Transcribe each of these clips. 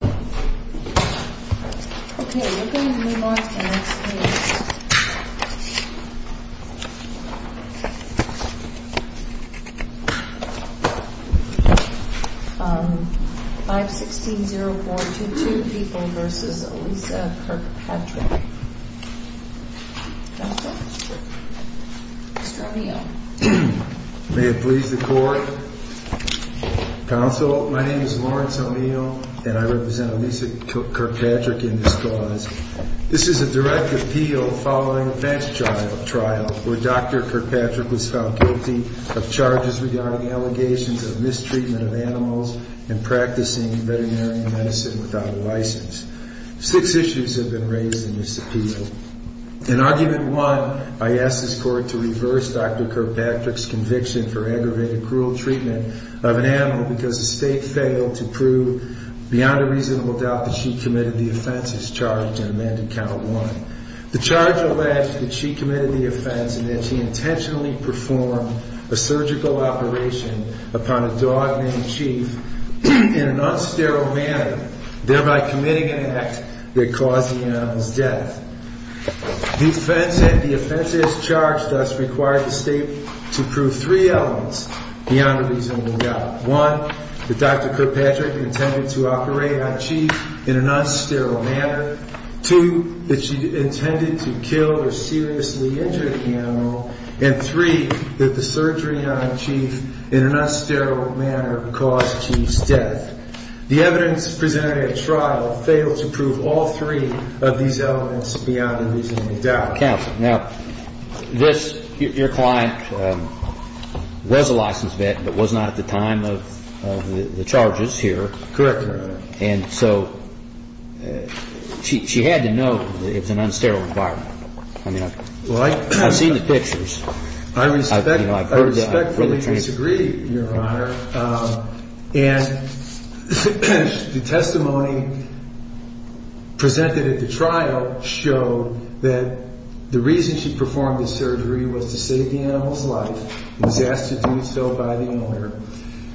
May it please the Court, Counsel, my name is Lawrence O'Neill, and I represent the Kirkpatrick in this cause. This is a direct appeal following a bench trial where Dr. Kirkpatrick was found guilty of charges regarding allegations of mistreatment of animals and practicing veterinary medicine without a license. Six issues have been raised in this appeal. In argument one, I ask this Court to reverse Dr. Kirkpatrick's conviction for aggravated and cruel treatment of an animal because the State failed to prove beyond a reasonable doubt that she committed the offenses charged in Amendment Count 1. The charge alleged that she committed the offense and that she intentionally performed a surgical operation upon a dog named Chief in an unsterile manner, thereby committing an act that caused the animal's death. The offense as charged thus requires the State to prove three elements beyond a reasonable doubt. One, that Dr. Kirkpatrick intended to operate on Chief in an unsterile manner. Two, that she intended to kill or seriously injure the animal. And three, that the surgery on Chief in an unsterile manner caused Chief's death. The evidence presented at trial failed to prove all three of these elements beyond a reasonable doubt. Your Honor, counsel, now this, your client was a licensed vet but was not at the time of the charges here. Correct, Your Honor. And so she had to know that it was an unsterile environment. I mean, I've seen the pictures. I respectfully disagree, Your Honor. And the reason she performed the surgery was to save the animal's life and was asked to do so by the owner.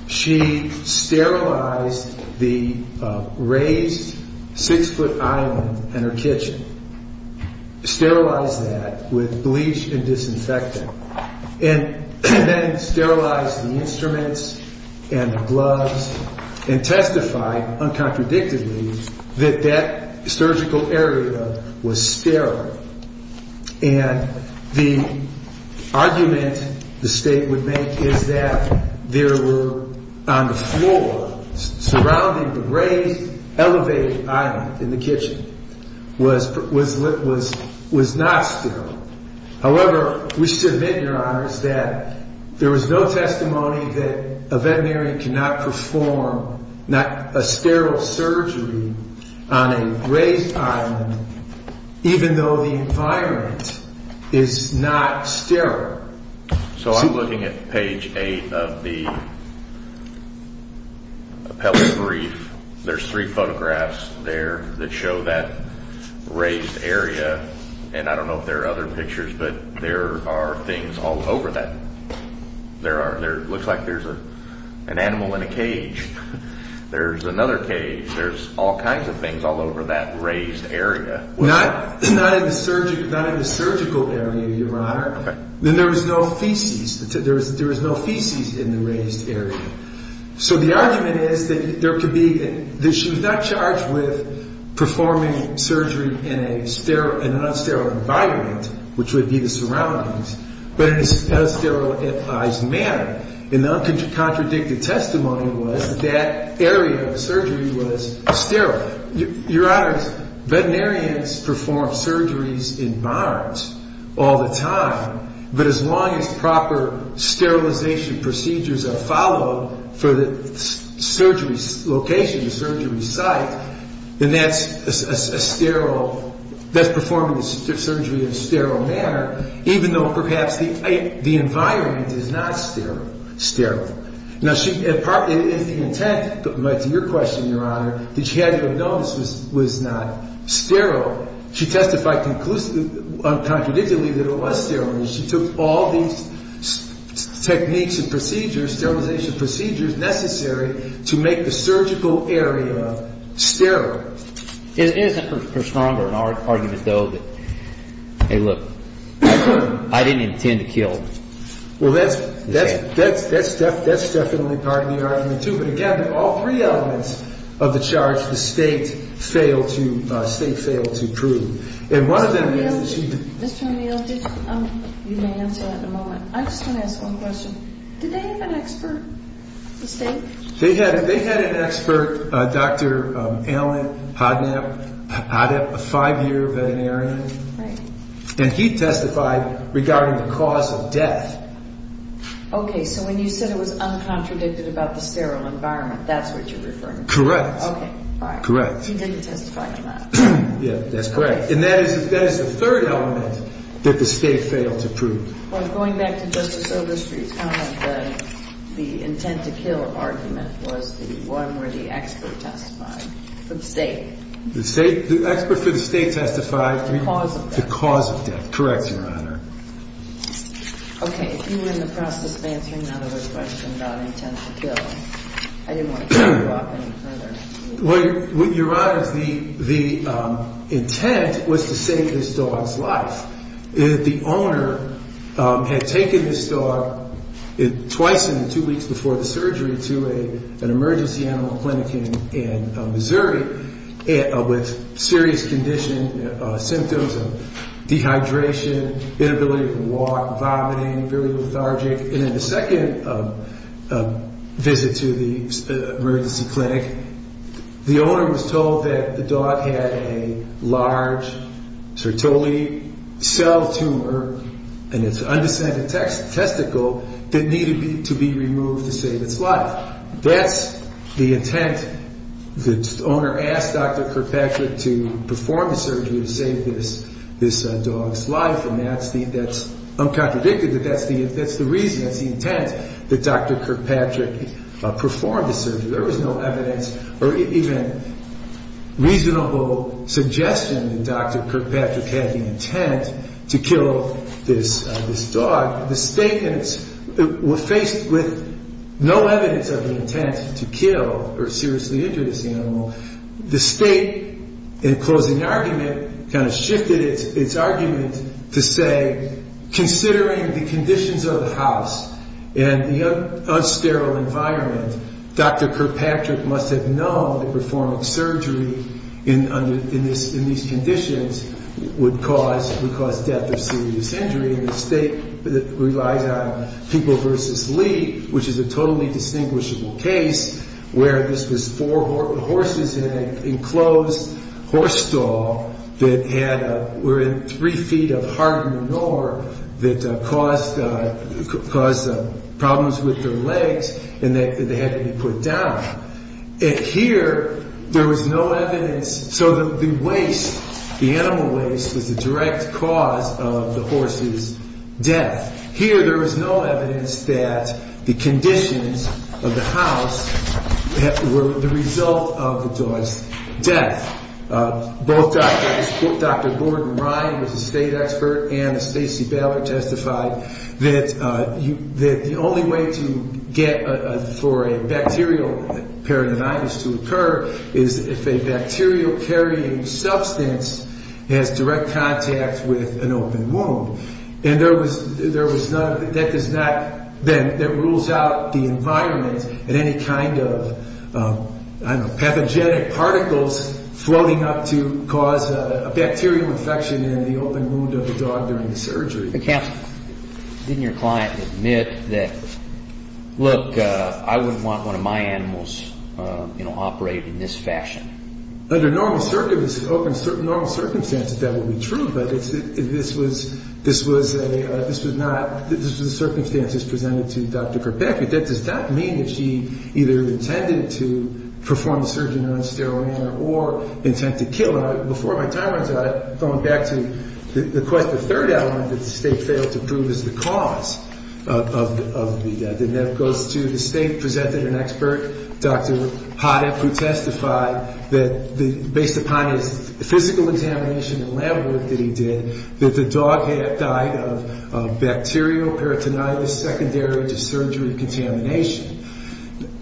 She sterilized the raised six-foot island in her kitchen. Sterilized that with bleach and disinfectant. And then sterilized the instruments and the gloves and testified uncontradictively that that surgical area was sterile. And the argument the State would make is that there were on the floor surrounding the raised elevated island in the kitchen was not sterile. However, we should admit, Your Honors, that there was no testimony that a woman had to perform a sterile surgery on a raised island even though the environment is not sterile. So I'm looking at page 8 of the appellate brief. There's three photographs there that show that raised area. And I don't know if there are other pictures, but there are things all over that. There looks like there's an animal in a cage. There's another cage. There's all kinds of things all over that raised area. Not in the surgical area, Your Honor. Then there was no feces. There was no feces in the raised area. So the argument is that she was not charged with sterilized manner. And the uncontradicted testimony was that that area of surgery was sterile. Your Honors, veterinarians perform surgeries in barns all the time. But as long as proper sterilization procedures are followed for the surgery location, the surgery site, then that's a sterile manner, even though perhaps the environment is not sterile. Sterile. Now, in the intent, to your question, Your Honor, that she had to have known this was not sterile, she testified conclusively, uncontradictedly, that it was sterile. And she took all these techniques and procedures, sterilization procedures necessary to make the surgical area sterile. It is a stronger argument, though, that, hey, look, I didn't intend to kill. Well, that's definitely part of the argument, too. But again, all three elements of the charge, the State failed to prove. And one of them is that she Mr. O'Neill, you can answer that in a moment. I just want to ask one question. Did they have an expert, Dr. Alan Hodnap, a five-year veterinarian? And he testified regarding the cause of death. Okay. So when you said it was uncontradicted about the sterile environment, that's what you're referring to? Correct. Okay. All right. Correct. He didn't testify to that. Yeah, that's correct. And that is the third element that the State failed to prove. Well, going back to Justice testified. The State? The expert for the State testified. The cause of death. The cause of death. Correct, Your Honor. Okay. If you win the process of answering that other question about intent to kill, I didn't want to talk you off any further. Well, Your Honors, the intent was to save this dog's life. The owner had taken this dog twice in the two weeks before the surgery to an emergency animal clinic in Missouri with serious condition, symptoms of dehydration, inability to walk, vomiting, very lethargic. And then the second visit to the emergency clinic, the owner was told that the dog had a large sertoli cell tumor in its undescended testicle that needed to be removed. The intent, the owner asked Dr. Kirkpatrick to perform the surgery to save this dog's life, and that's the, that's, I'm contradicted that that's the reason, that's the intent that Dr. Kirkpatrick performed the surgery. There was no evidence or even reasonable suggestion that Dr. Kirkpatrick had the intent to kill this dog. The state, faced with no evidence of the intent to kill or seriously injure this animal, the state, in closing argument, kind of shifted its argument to say, considering the conditions of the house and the unsterile environment, Dr. Kirkpatrick must have known that performing surgery in these conditions would cause, would cause death or serious injury, and the state relies on people versus lead, which is a totally distinguishable case, where this was four horses in an enclosed horse stall that had, were in three feet of hardened ore that caused, caused problems with their legs and that they had to be put down. And here, there was no evidence, so the waste, the animal waste was the direct cause of the horse's death. Here, there was no evidence that the conditions of the house were the result of the dog's death. Both Dr., Dr. Gordon Ryan, who's a state expert, and Stacy Ballard testified that you, that the only way to get for a bacterial peritonitis to occur is if a bacterial carrying substance has direct contact with an open wound. And there was, there was none, that does not, that rules out the environment and any kind of, I don't know, pathogenic particles floating up to cause a bacterial infection in the open wound of the dog during the surgery. But Counselor, didn't your client admit that, look, I wouldn't want one of my animals, you know, operated in this fashion? Under normal circumstances, that would be true, but this was, this was a, this was not, this was the circumstances presented to Dr. Kirkpatrick. That does not mean that he either intended to perform the surgery in a non-sterile manner or intent to kill. And before my time runs out, I'm going back to the third element that the state failed to prove is the cause of the death. And that goes to the state presented an expert, Dr. Hoddeck, who testified that based upon his physical examination and lab work that he did, that the dog had died of bacterial peritonitis secondary to surgery contamination.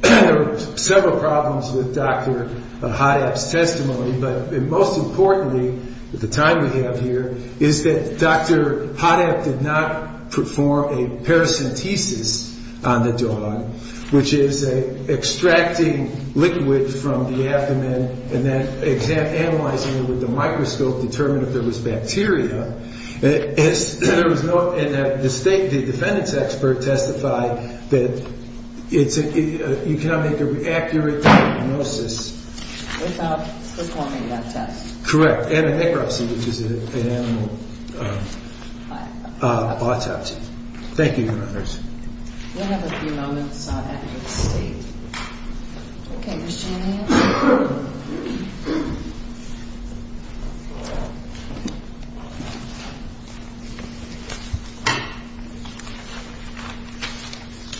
There were several problems with Dr. Hoddeck's testimony, but most importantly, at the time we have here, is that Dr. Hoddeck did not perform a paracentesis on the dog, which is extracting liquid from the abdomen and then analyzing it with a bacteria. There was no, and the state, the defendant's expert testified that it's, you cannot make an accurate diagnosis. Without performing that test. Correct. And a necrosis, which is an animal autopsy. Thank you, Your Honors. We'll have a few moments after the state. Okay, Ms. Shanahan.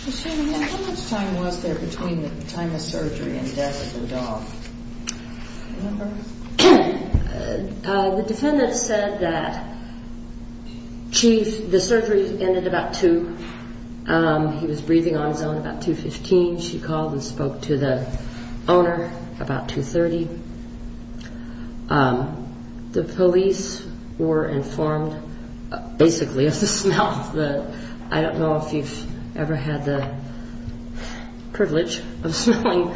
Ms. Shanahan, how much time was there between the time of He was breathing on his own about 2.15. She called and spoke to the owner about 2.30. The police were informed basically of the smell. I don't know if you've ever had the privilege of smelling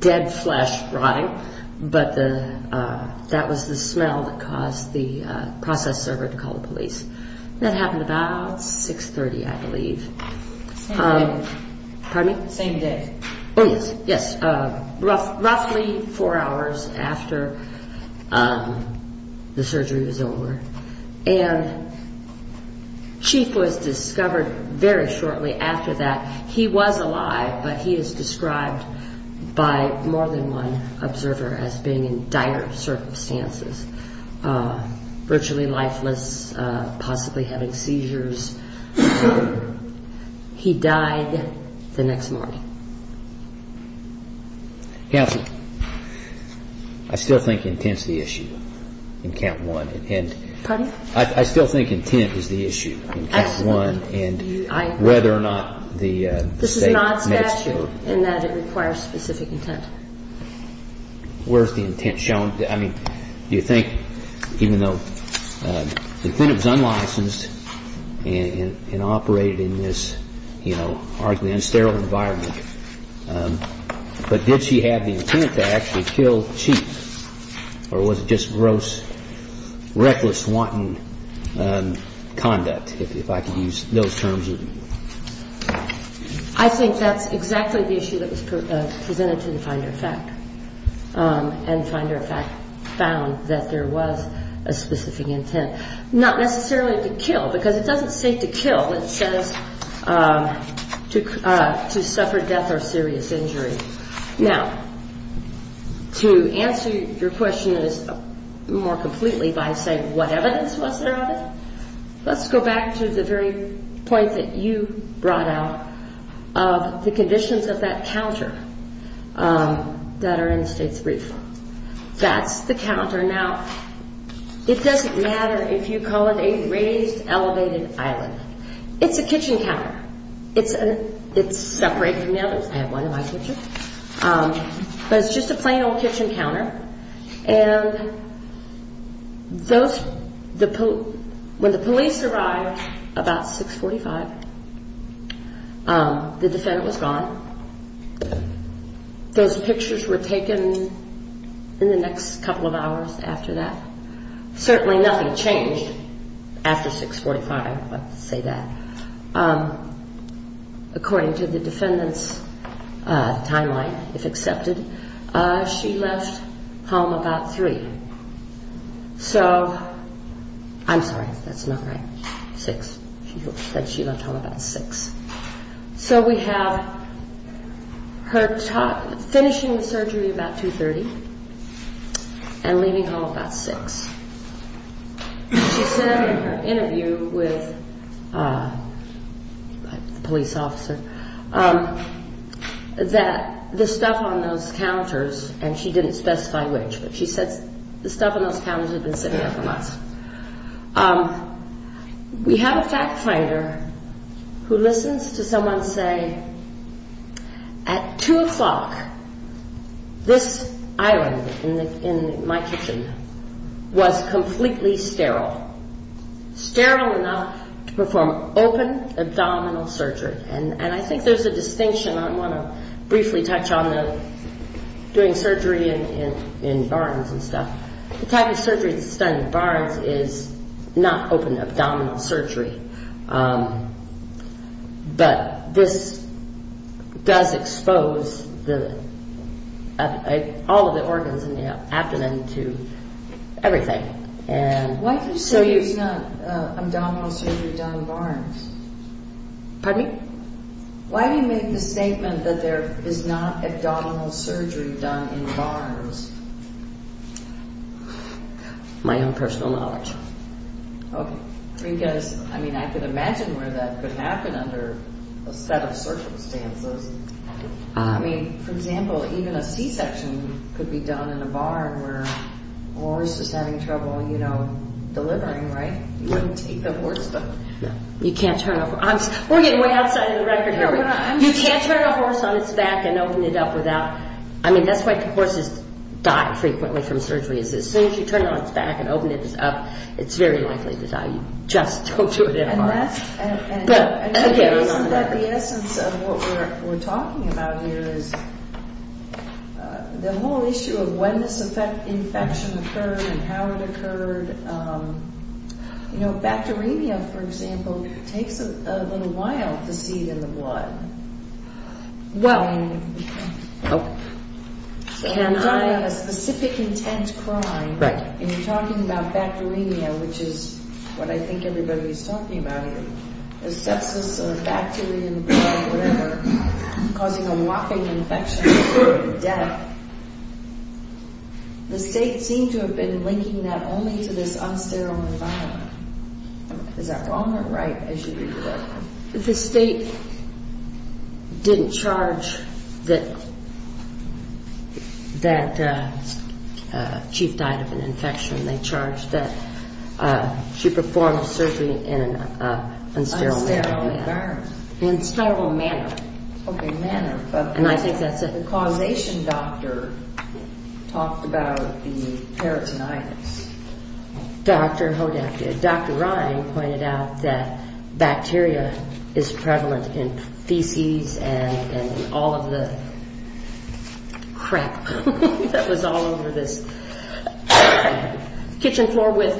dead flesh rotting, but that was the smell that caused the process server to call the police. That happened about 6.30, I believe. Same day. Pardon me? Same day. Yes. Roughly four hours after the surgery was over. And Chief was discovered very shortly after that. He was alive, but he is described by more than one possibly having seizures. He died the next morning. Counsel, I still think intent is the issue in count one. Pardon? I still think intent is the issue. I think it's the issue of the fact that the defendant was unlicensed and operated in this, you know, arguably unsterile environment. But did she have the intent to actually kill Chief, or was it just gross, reckless, wanton conduct, if I can use those terms? I think that's exactly the issue that was presented to the finder of fact. And finder of fact found that there was a specific intent. Not necessarily to kill, because it doesn't say to kill. It says to suffer death or serious injury. Now, to answer your question more completely by saying what evidence was there of it, let's go back to the very point that you brought out of the conditions of that counter that are in the State's brief. That's the counter. Now, it doesn't matter if you call it a raised elevated island. It's a kitchen counter. It's separate from the others. I have one in my When the police arrived about 645, the defendant was gone. Those pictures were taken in the next couple of hours after that. Certainly nothing changed after 645, let's say that. According to the defendant's timeline, if accepted, she left home about 3. So, I'm sorry, that's not right, 6. She said she left home about 6. So we have her finishing the surgery about 2.30 and leaving home about 6. She said in her interview with the police officer that the stuff on those counters, and she didn't specify which, but she said the stuff on those counters had been sitting there for months. We have a fact finder who listens to someone say, at 2 o'clock, this island in my kitchen was completely sterile. Sterile enough to perform open abdominal surgery. And I think there's a distinction. I want to briefly touch on doing surgery in barns and stuff. The type of surgery that's done in barns is not open abdominal surgery. But this does expose all of the organs in the abdomen to everything. Why do you say it's not abdominal surgery done in barns? Pardon me? Why do you make the statement that there is not abdominal surgery done in barns? My own personal knowledge. Okay. Because, I mean, I could imagine where that could happen under a set of circumstances. I mean, for example, even a C-section could be done in a barn where a horse is having trouble, you know, delivering, right? You wouldn't take the horse. We're getting way outside of the record here. You can't turn a horse on its back and open it up without, I mean, that's why horses die frequently from surgery is as soon as you turn it on its back and open it up, it's very likely to die. You just don't do it in a barn. But the essence of what we're talking about here is the whole issue of when this infection occurred and how it occurred. You know, bacteremia, for example, takes a little while to seed in the blood. Well, when you're dying a specific intent crime, and you're talking about bacteremia, which is what I think everybody's talking about here, is sepsis or bacteria in the blood or whatever causing a whopping infection or death. The state seemed to have been linking that only to this unsterile environment. Is that wrong or right as you read it? Well, the state didn't charge that Chief died of an infection. They charged that she performed surgery in an unsterile environment. Unsterile environment. Unsterile manner. Okay, manner, but the causation doctor talked about the peritonitis. Dr. Rhine pointed out that bacteria is prevalent in feces and all of the crap that was all over this kitchen floor with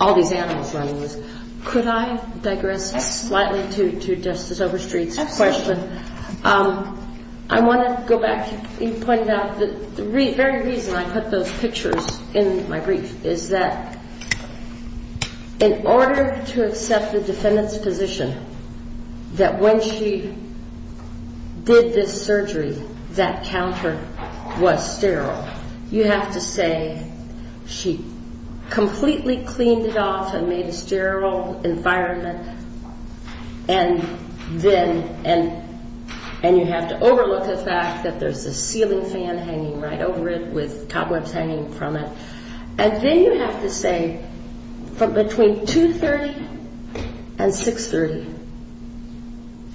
all these animals running loose. Could I digress slightly to Justice Overstreet's question? Absolutely. I want to go back. You pointed out the very reason I put those pictures in my brief is that in order to accept the defendant's position that when she did this surgery, that counter was sterile. You have to say she completely cleaned it off and made a sterile environment and you have to overlook the fact that there's a ceiling fan hanging right over it with cobwebs hanging from it. And then you have to say from between 2.30 and 6.30,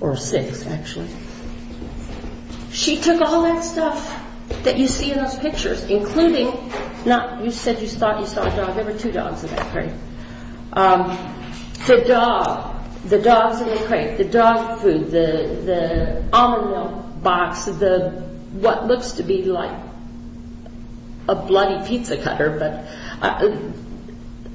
or 6 actually, she took all that stuff that you see in those pictures including, you said you saw a dog, there were two dogs in that crate. The dog, the dogs in the crate, the dog food, the almond milk box, what looks to be like a bloody pizza cutter, but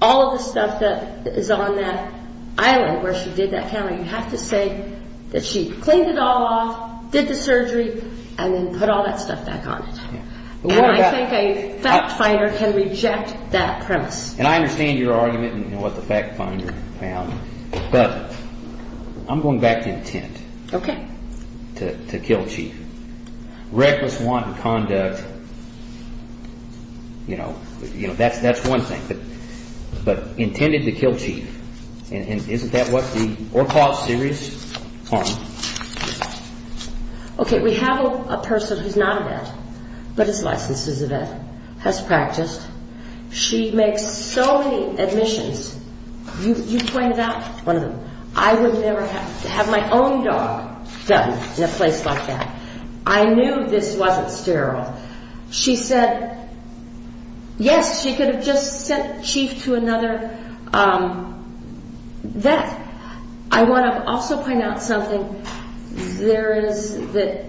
all of the stuff that is on that island where she did that counter, you have to say that she cleaned it all off, did the surgery and then put all that stuff back on it. And I think a fact finder can reject that premise. And I understand your argument and what the fact finder found, but I'm going back to intent. Okay. To kill Chief. Reckless wanton conduct, you know, that's one thing, but intended to kill Chief. And isn't that what the or cause serious harm? Okay, we have a person who's not a vet, but is licensed as a vet, has practiced. She makes so many admissions. You pointed out one of them. I would never have my own dog done in a place like that. I knew this wasn't sterile. She said, yes, she could have just sent Chief to another vet. I want to also point out something. There is the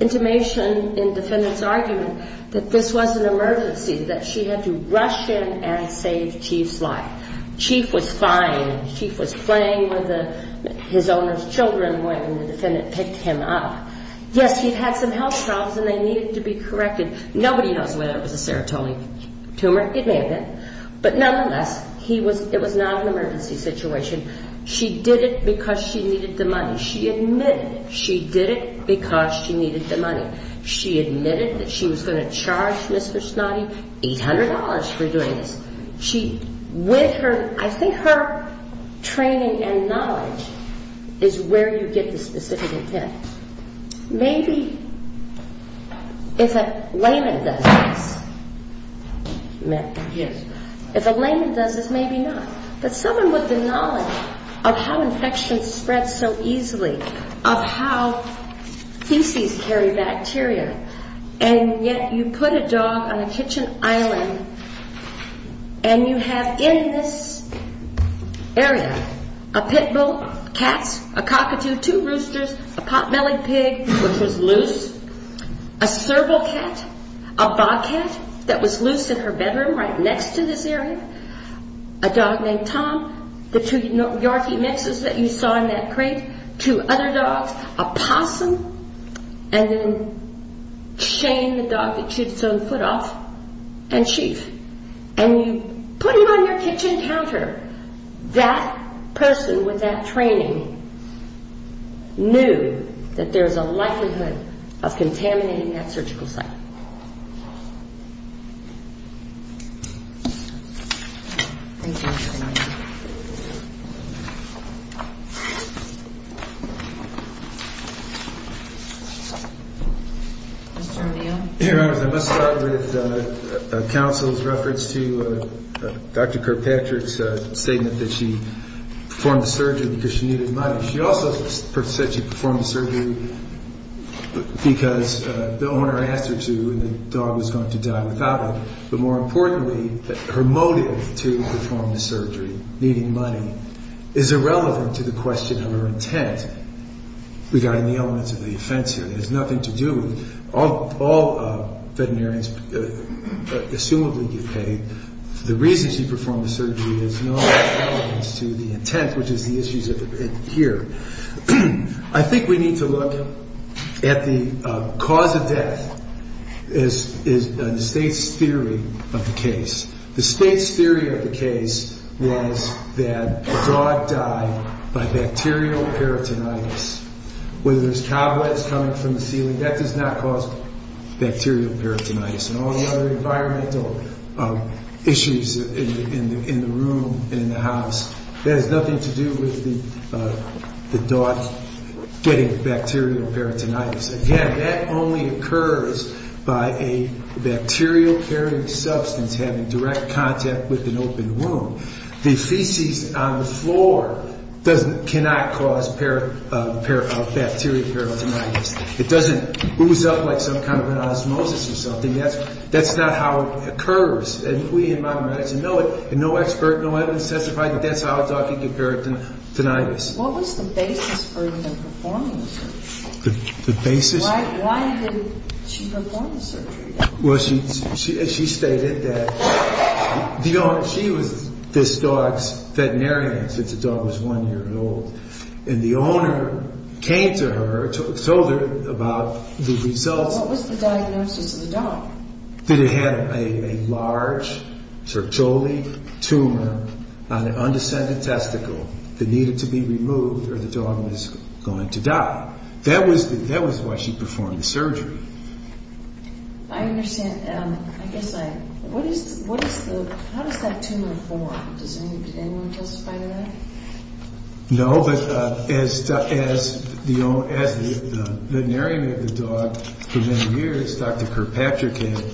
intimation in defendant's argument that this was an emergency, that she had to rush in and save Chief's life. Chief was fine. Chief was playing with his owner's children when the defendant picked him up. Yes, he'd had some health problems and they needed to be corrected. Nobody knows whether it was a serotonin tumor. It may have been. But nonetheless, it was not an emergency situation. She did it because she needed the money. She admitted she did it because she needed the money. She admitted that she was going to charge Mr. Snoddy $800 for doing this. I think her training and knowledge is where you get the specific intent. Maybe if a layman does this, maybe not. But someone with the knowledge of how infections spread so easily, of how feces carry bacteria, and yet you put a dog on a kitchen island and you have in this area a pit bull, cats, a cockatoo, two roosters, a pot-bellied pig, which was loose, a serval cat, a bobcat that was loose in her bedroom right next to this area, a dog named Tom, the two Yorkie mixes that you saw in that crate, two other dogs, a possum, and then Shane, the dog that shoots its own foot off, and Chief. And you put him on your kitchen counter. That person with that training knew that there was a likelihood of contaminating that surgical site. Thank you very much. Mr. O'Neill. Your Honor, I must start with counsel's reference to Dr. Kirkpatrick's statement that she performed the surgery because she needed money. She also said she performed the surgery because the owner asked her to and the dog was going to die without it. But more importantly, her motive to perform the surgery, needing money, is irrelevant to the question of her intent regarding the elements of the offense here. It has nothing to do with all veterinarians assumably get paid. The reason she performed the surgery has no relevance to the intent, which is the issues here. I think we need to look at the cause of death is the state's theory of the case. The state's theory of the case was that the dog died by bacterial peritonitis. Whether there's cobwebs coming from the ceiling, that does not cause bacterial peritonitis. And all the other environmental issues in the room and in the house, that has nothing to do with the dog getting bacterial peritonitis. Again, that only occurs by a bacterial-carrying substance having direct contact with an open wound. The feces on the floor cannot cause bacterial peritonitis. It doesn't ooze up like some kind of an osmosis or something. That's not how it occurs. And we in modern medicine know it. And no expert, no evidence testifies that that's how a dog can get peritonitis. What was the basis for her performing the surgery? The basis? Why did she perform the surgery? Well, she stated that she was this dog's veterinarian since the dog was one year old. And the owner came to her, told her about the results. What was the diagnosis of the dog? That it had a large, tertiary tumor on an undescended testicle that needed to be removed or the dog was going to die. That was why she performed the surgery. I understand. I guess I... What is the... How does that tumor form? Did anyone testify to that? No, but as the veterinarian of the dog for many years, Dr. Kirkpatrick, had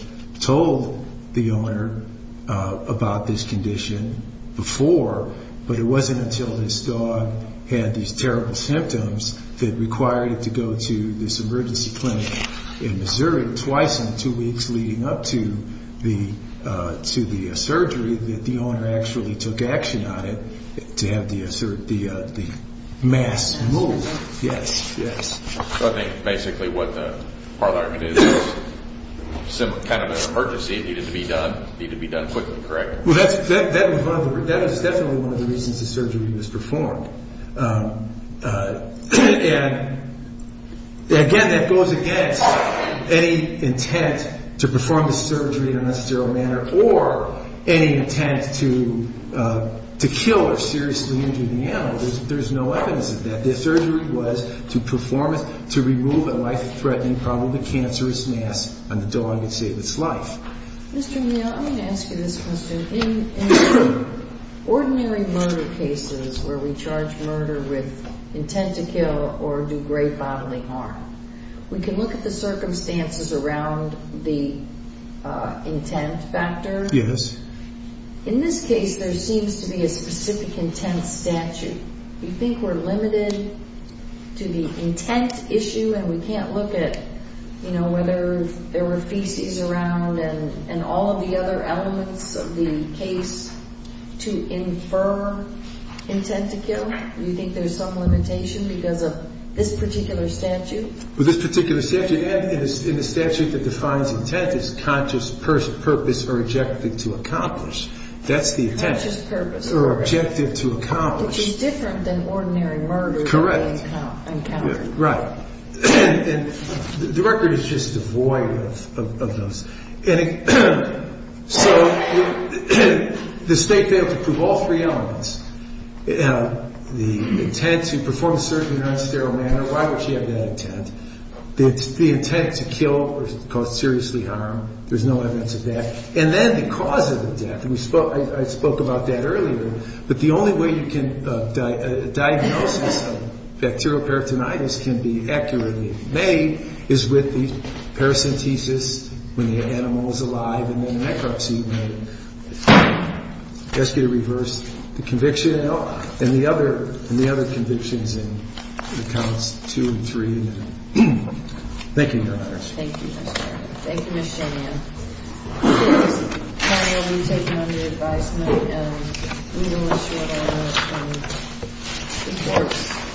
told the owner about this condition before, but it wasn't until this dog had these terrible symptoms that required it to go to this emergency clinic in Missouri twice in two weeks leading up to the surgery that the owner actually took action on it to have the mass moved. Yes, yes. So I think basically what the parliament is is kind of an emergency. It needed to be done. It needed to be done quickly, correct? Well, that was definitely one of the reasons the surgery was performed. And again, that goes against any intent to perform the surgery in a necessary manner or any intent to kill or seriously injure the animal. There's no evidence of that. The surgery was to remove a life-threatening, probably cancerous mass on the dog and save its life. Mr. Neal, I'm going to ask you this question. In ordinary murder cases where we charge murder with intent to kill or do great bodily harm, we can look at the circumstances around the intent factor. Yes. In this case, there seems to be a specific intent statute. Do you think we're limited to the intent issue, and we can't look at whether there were feces around and all of the other elements of the case to infer intent to kill? Do you think there's some limitation because of this particular statute? Well, this particular statute, and in the statute that defines intent, it's conscious purpose or objective to accomplish. That's the intent. Conscious purpose, correct. Or objective to accomplish. Which is different than ordinary murder. Correct. Encounter. Right. And the record is just devoid of those. And so the state failed to prove all three elements. The intent to perform surgery in a non-sterile manner. Why would she have that intent? The intent to kill or cause seriously harm. There's no evidence of that. And then the cause of the death. I spoke about that earlier. But the only way you can diagnose bacterial peritonitis can be accurately made is with the paracentesis when the animal is alive and then the necropsy. That's going to reverse the conviction. And the other convictions in the counts two and three. Thank you, Your Honors. Thank you, Mr. Chairman. Thank you, Ms. Jolian. Thank you, Mr. Chairman. Thank you for taking on the advisement. And we will ensure that it works.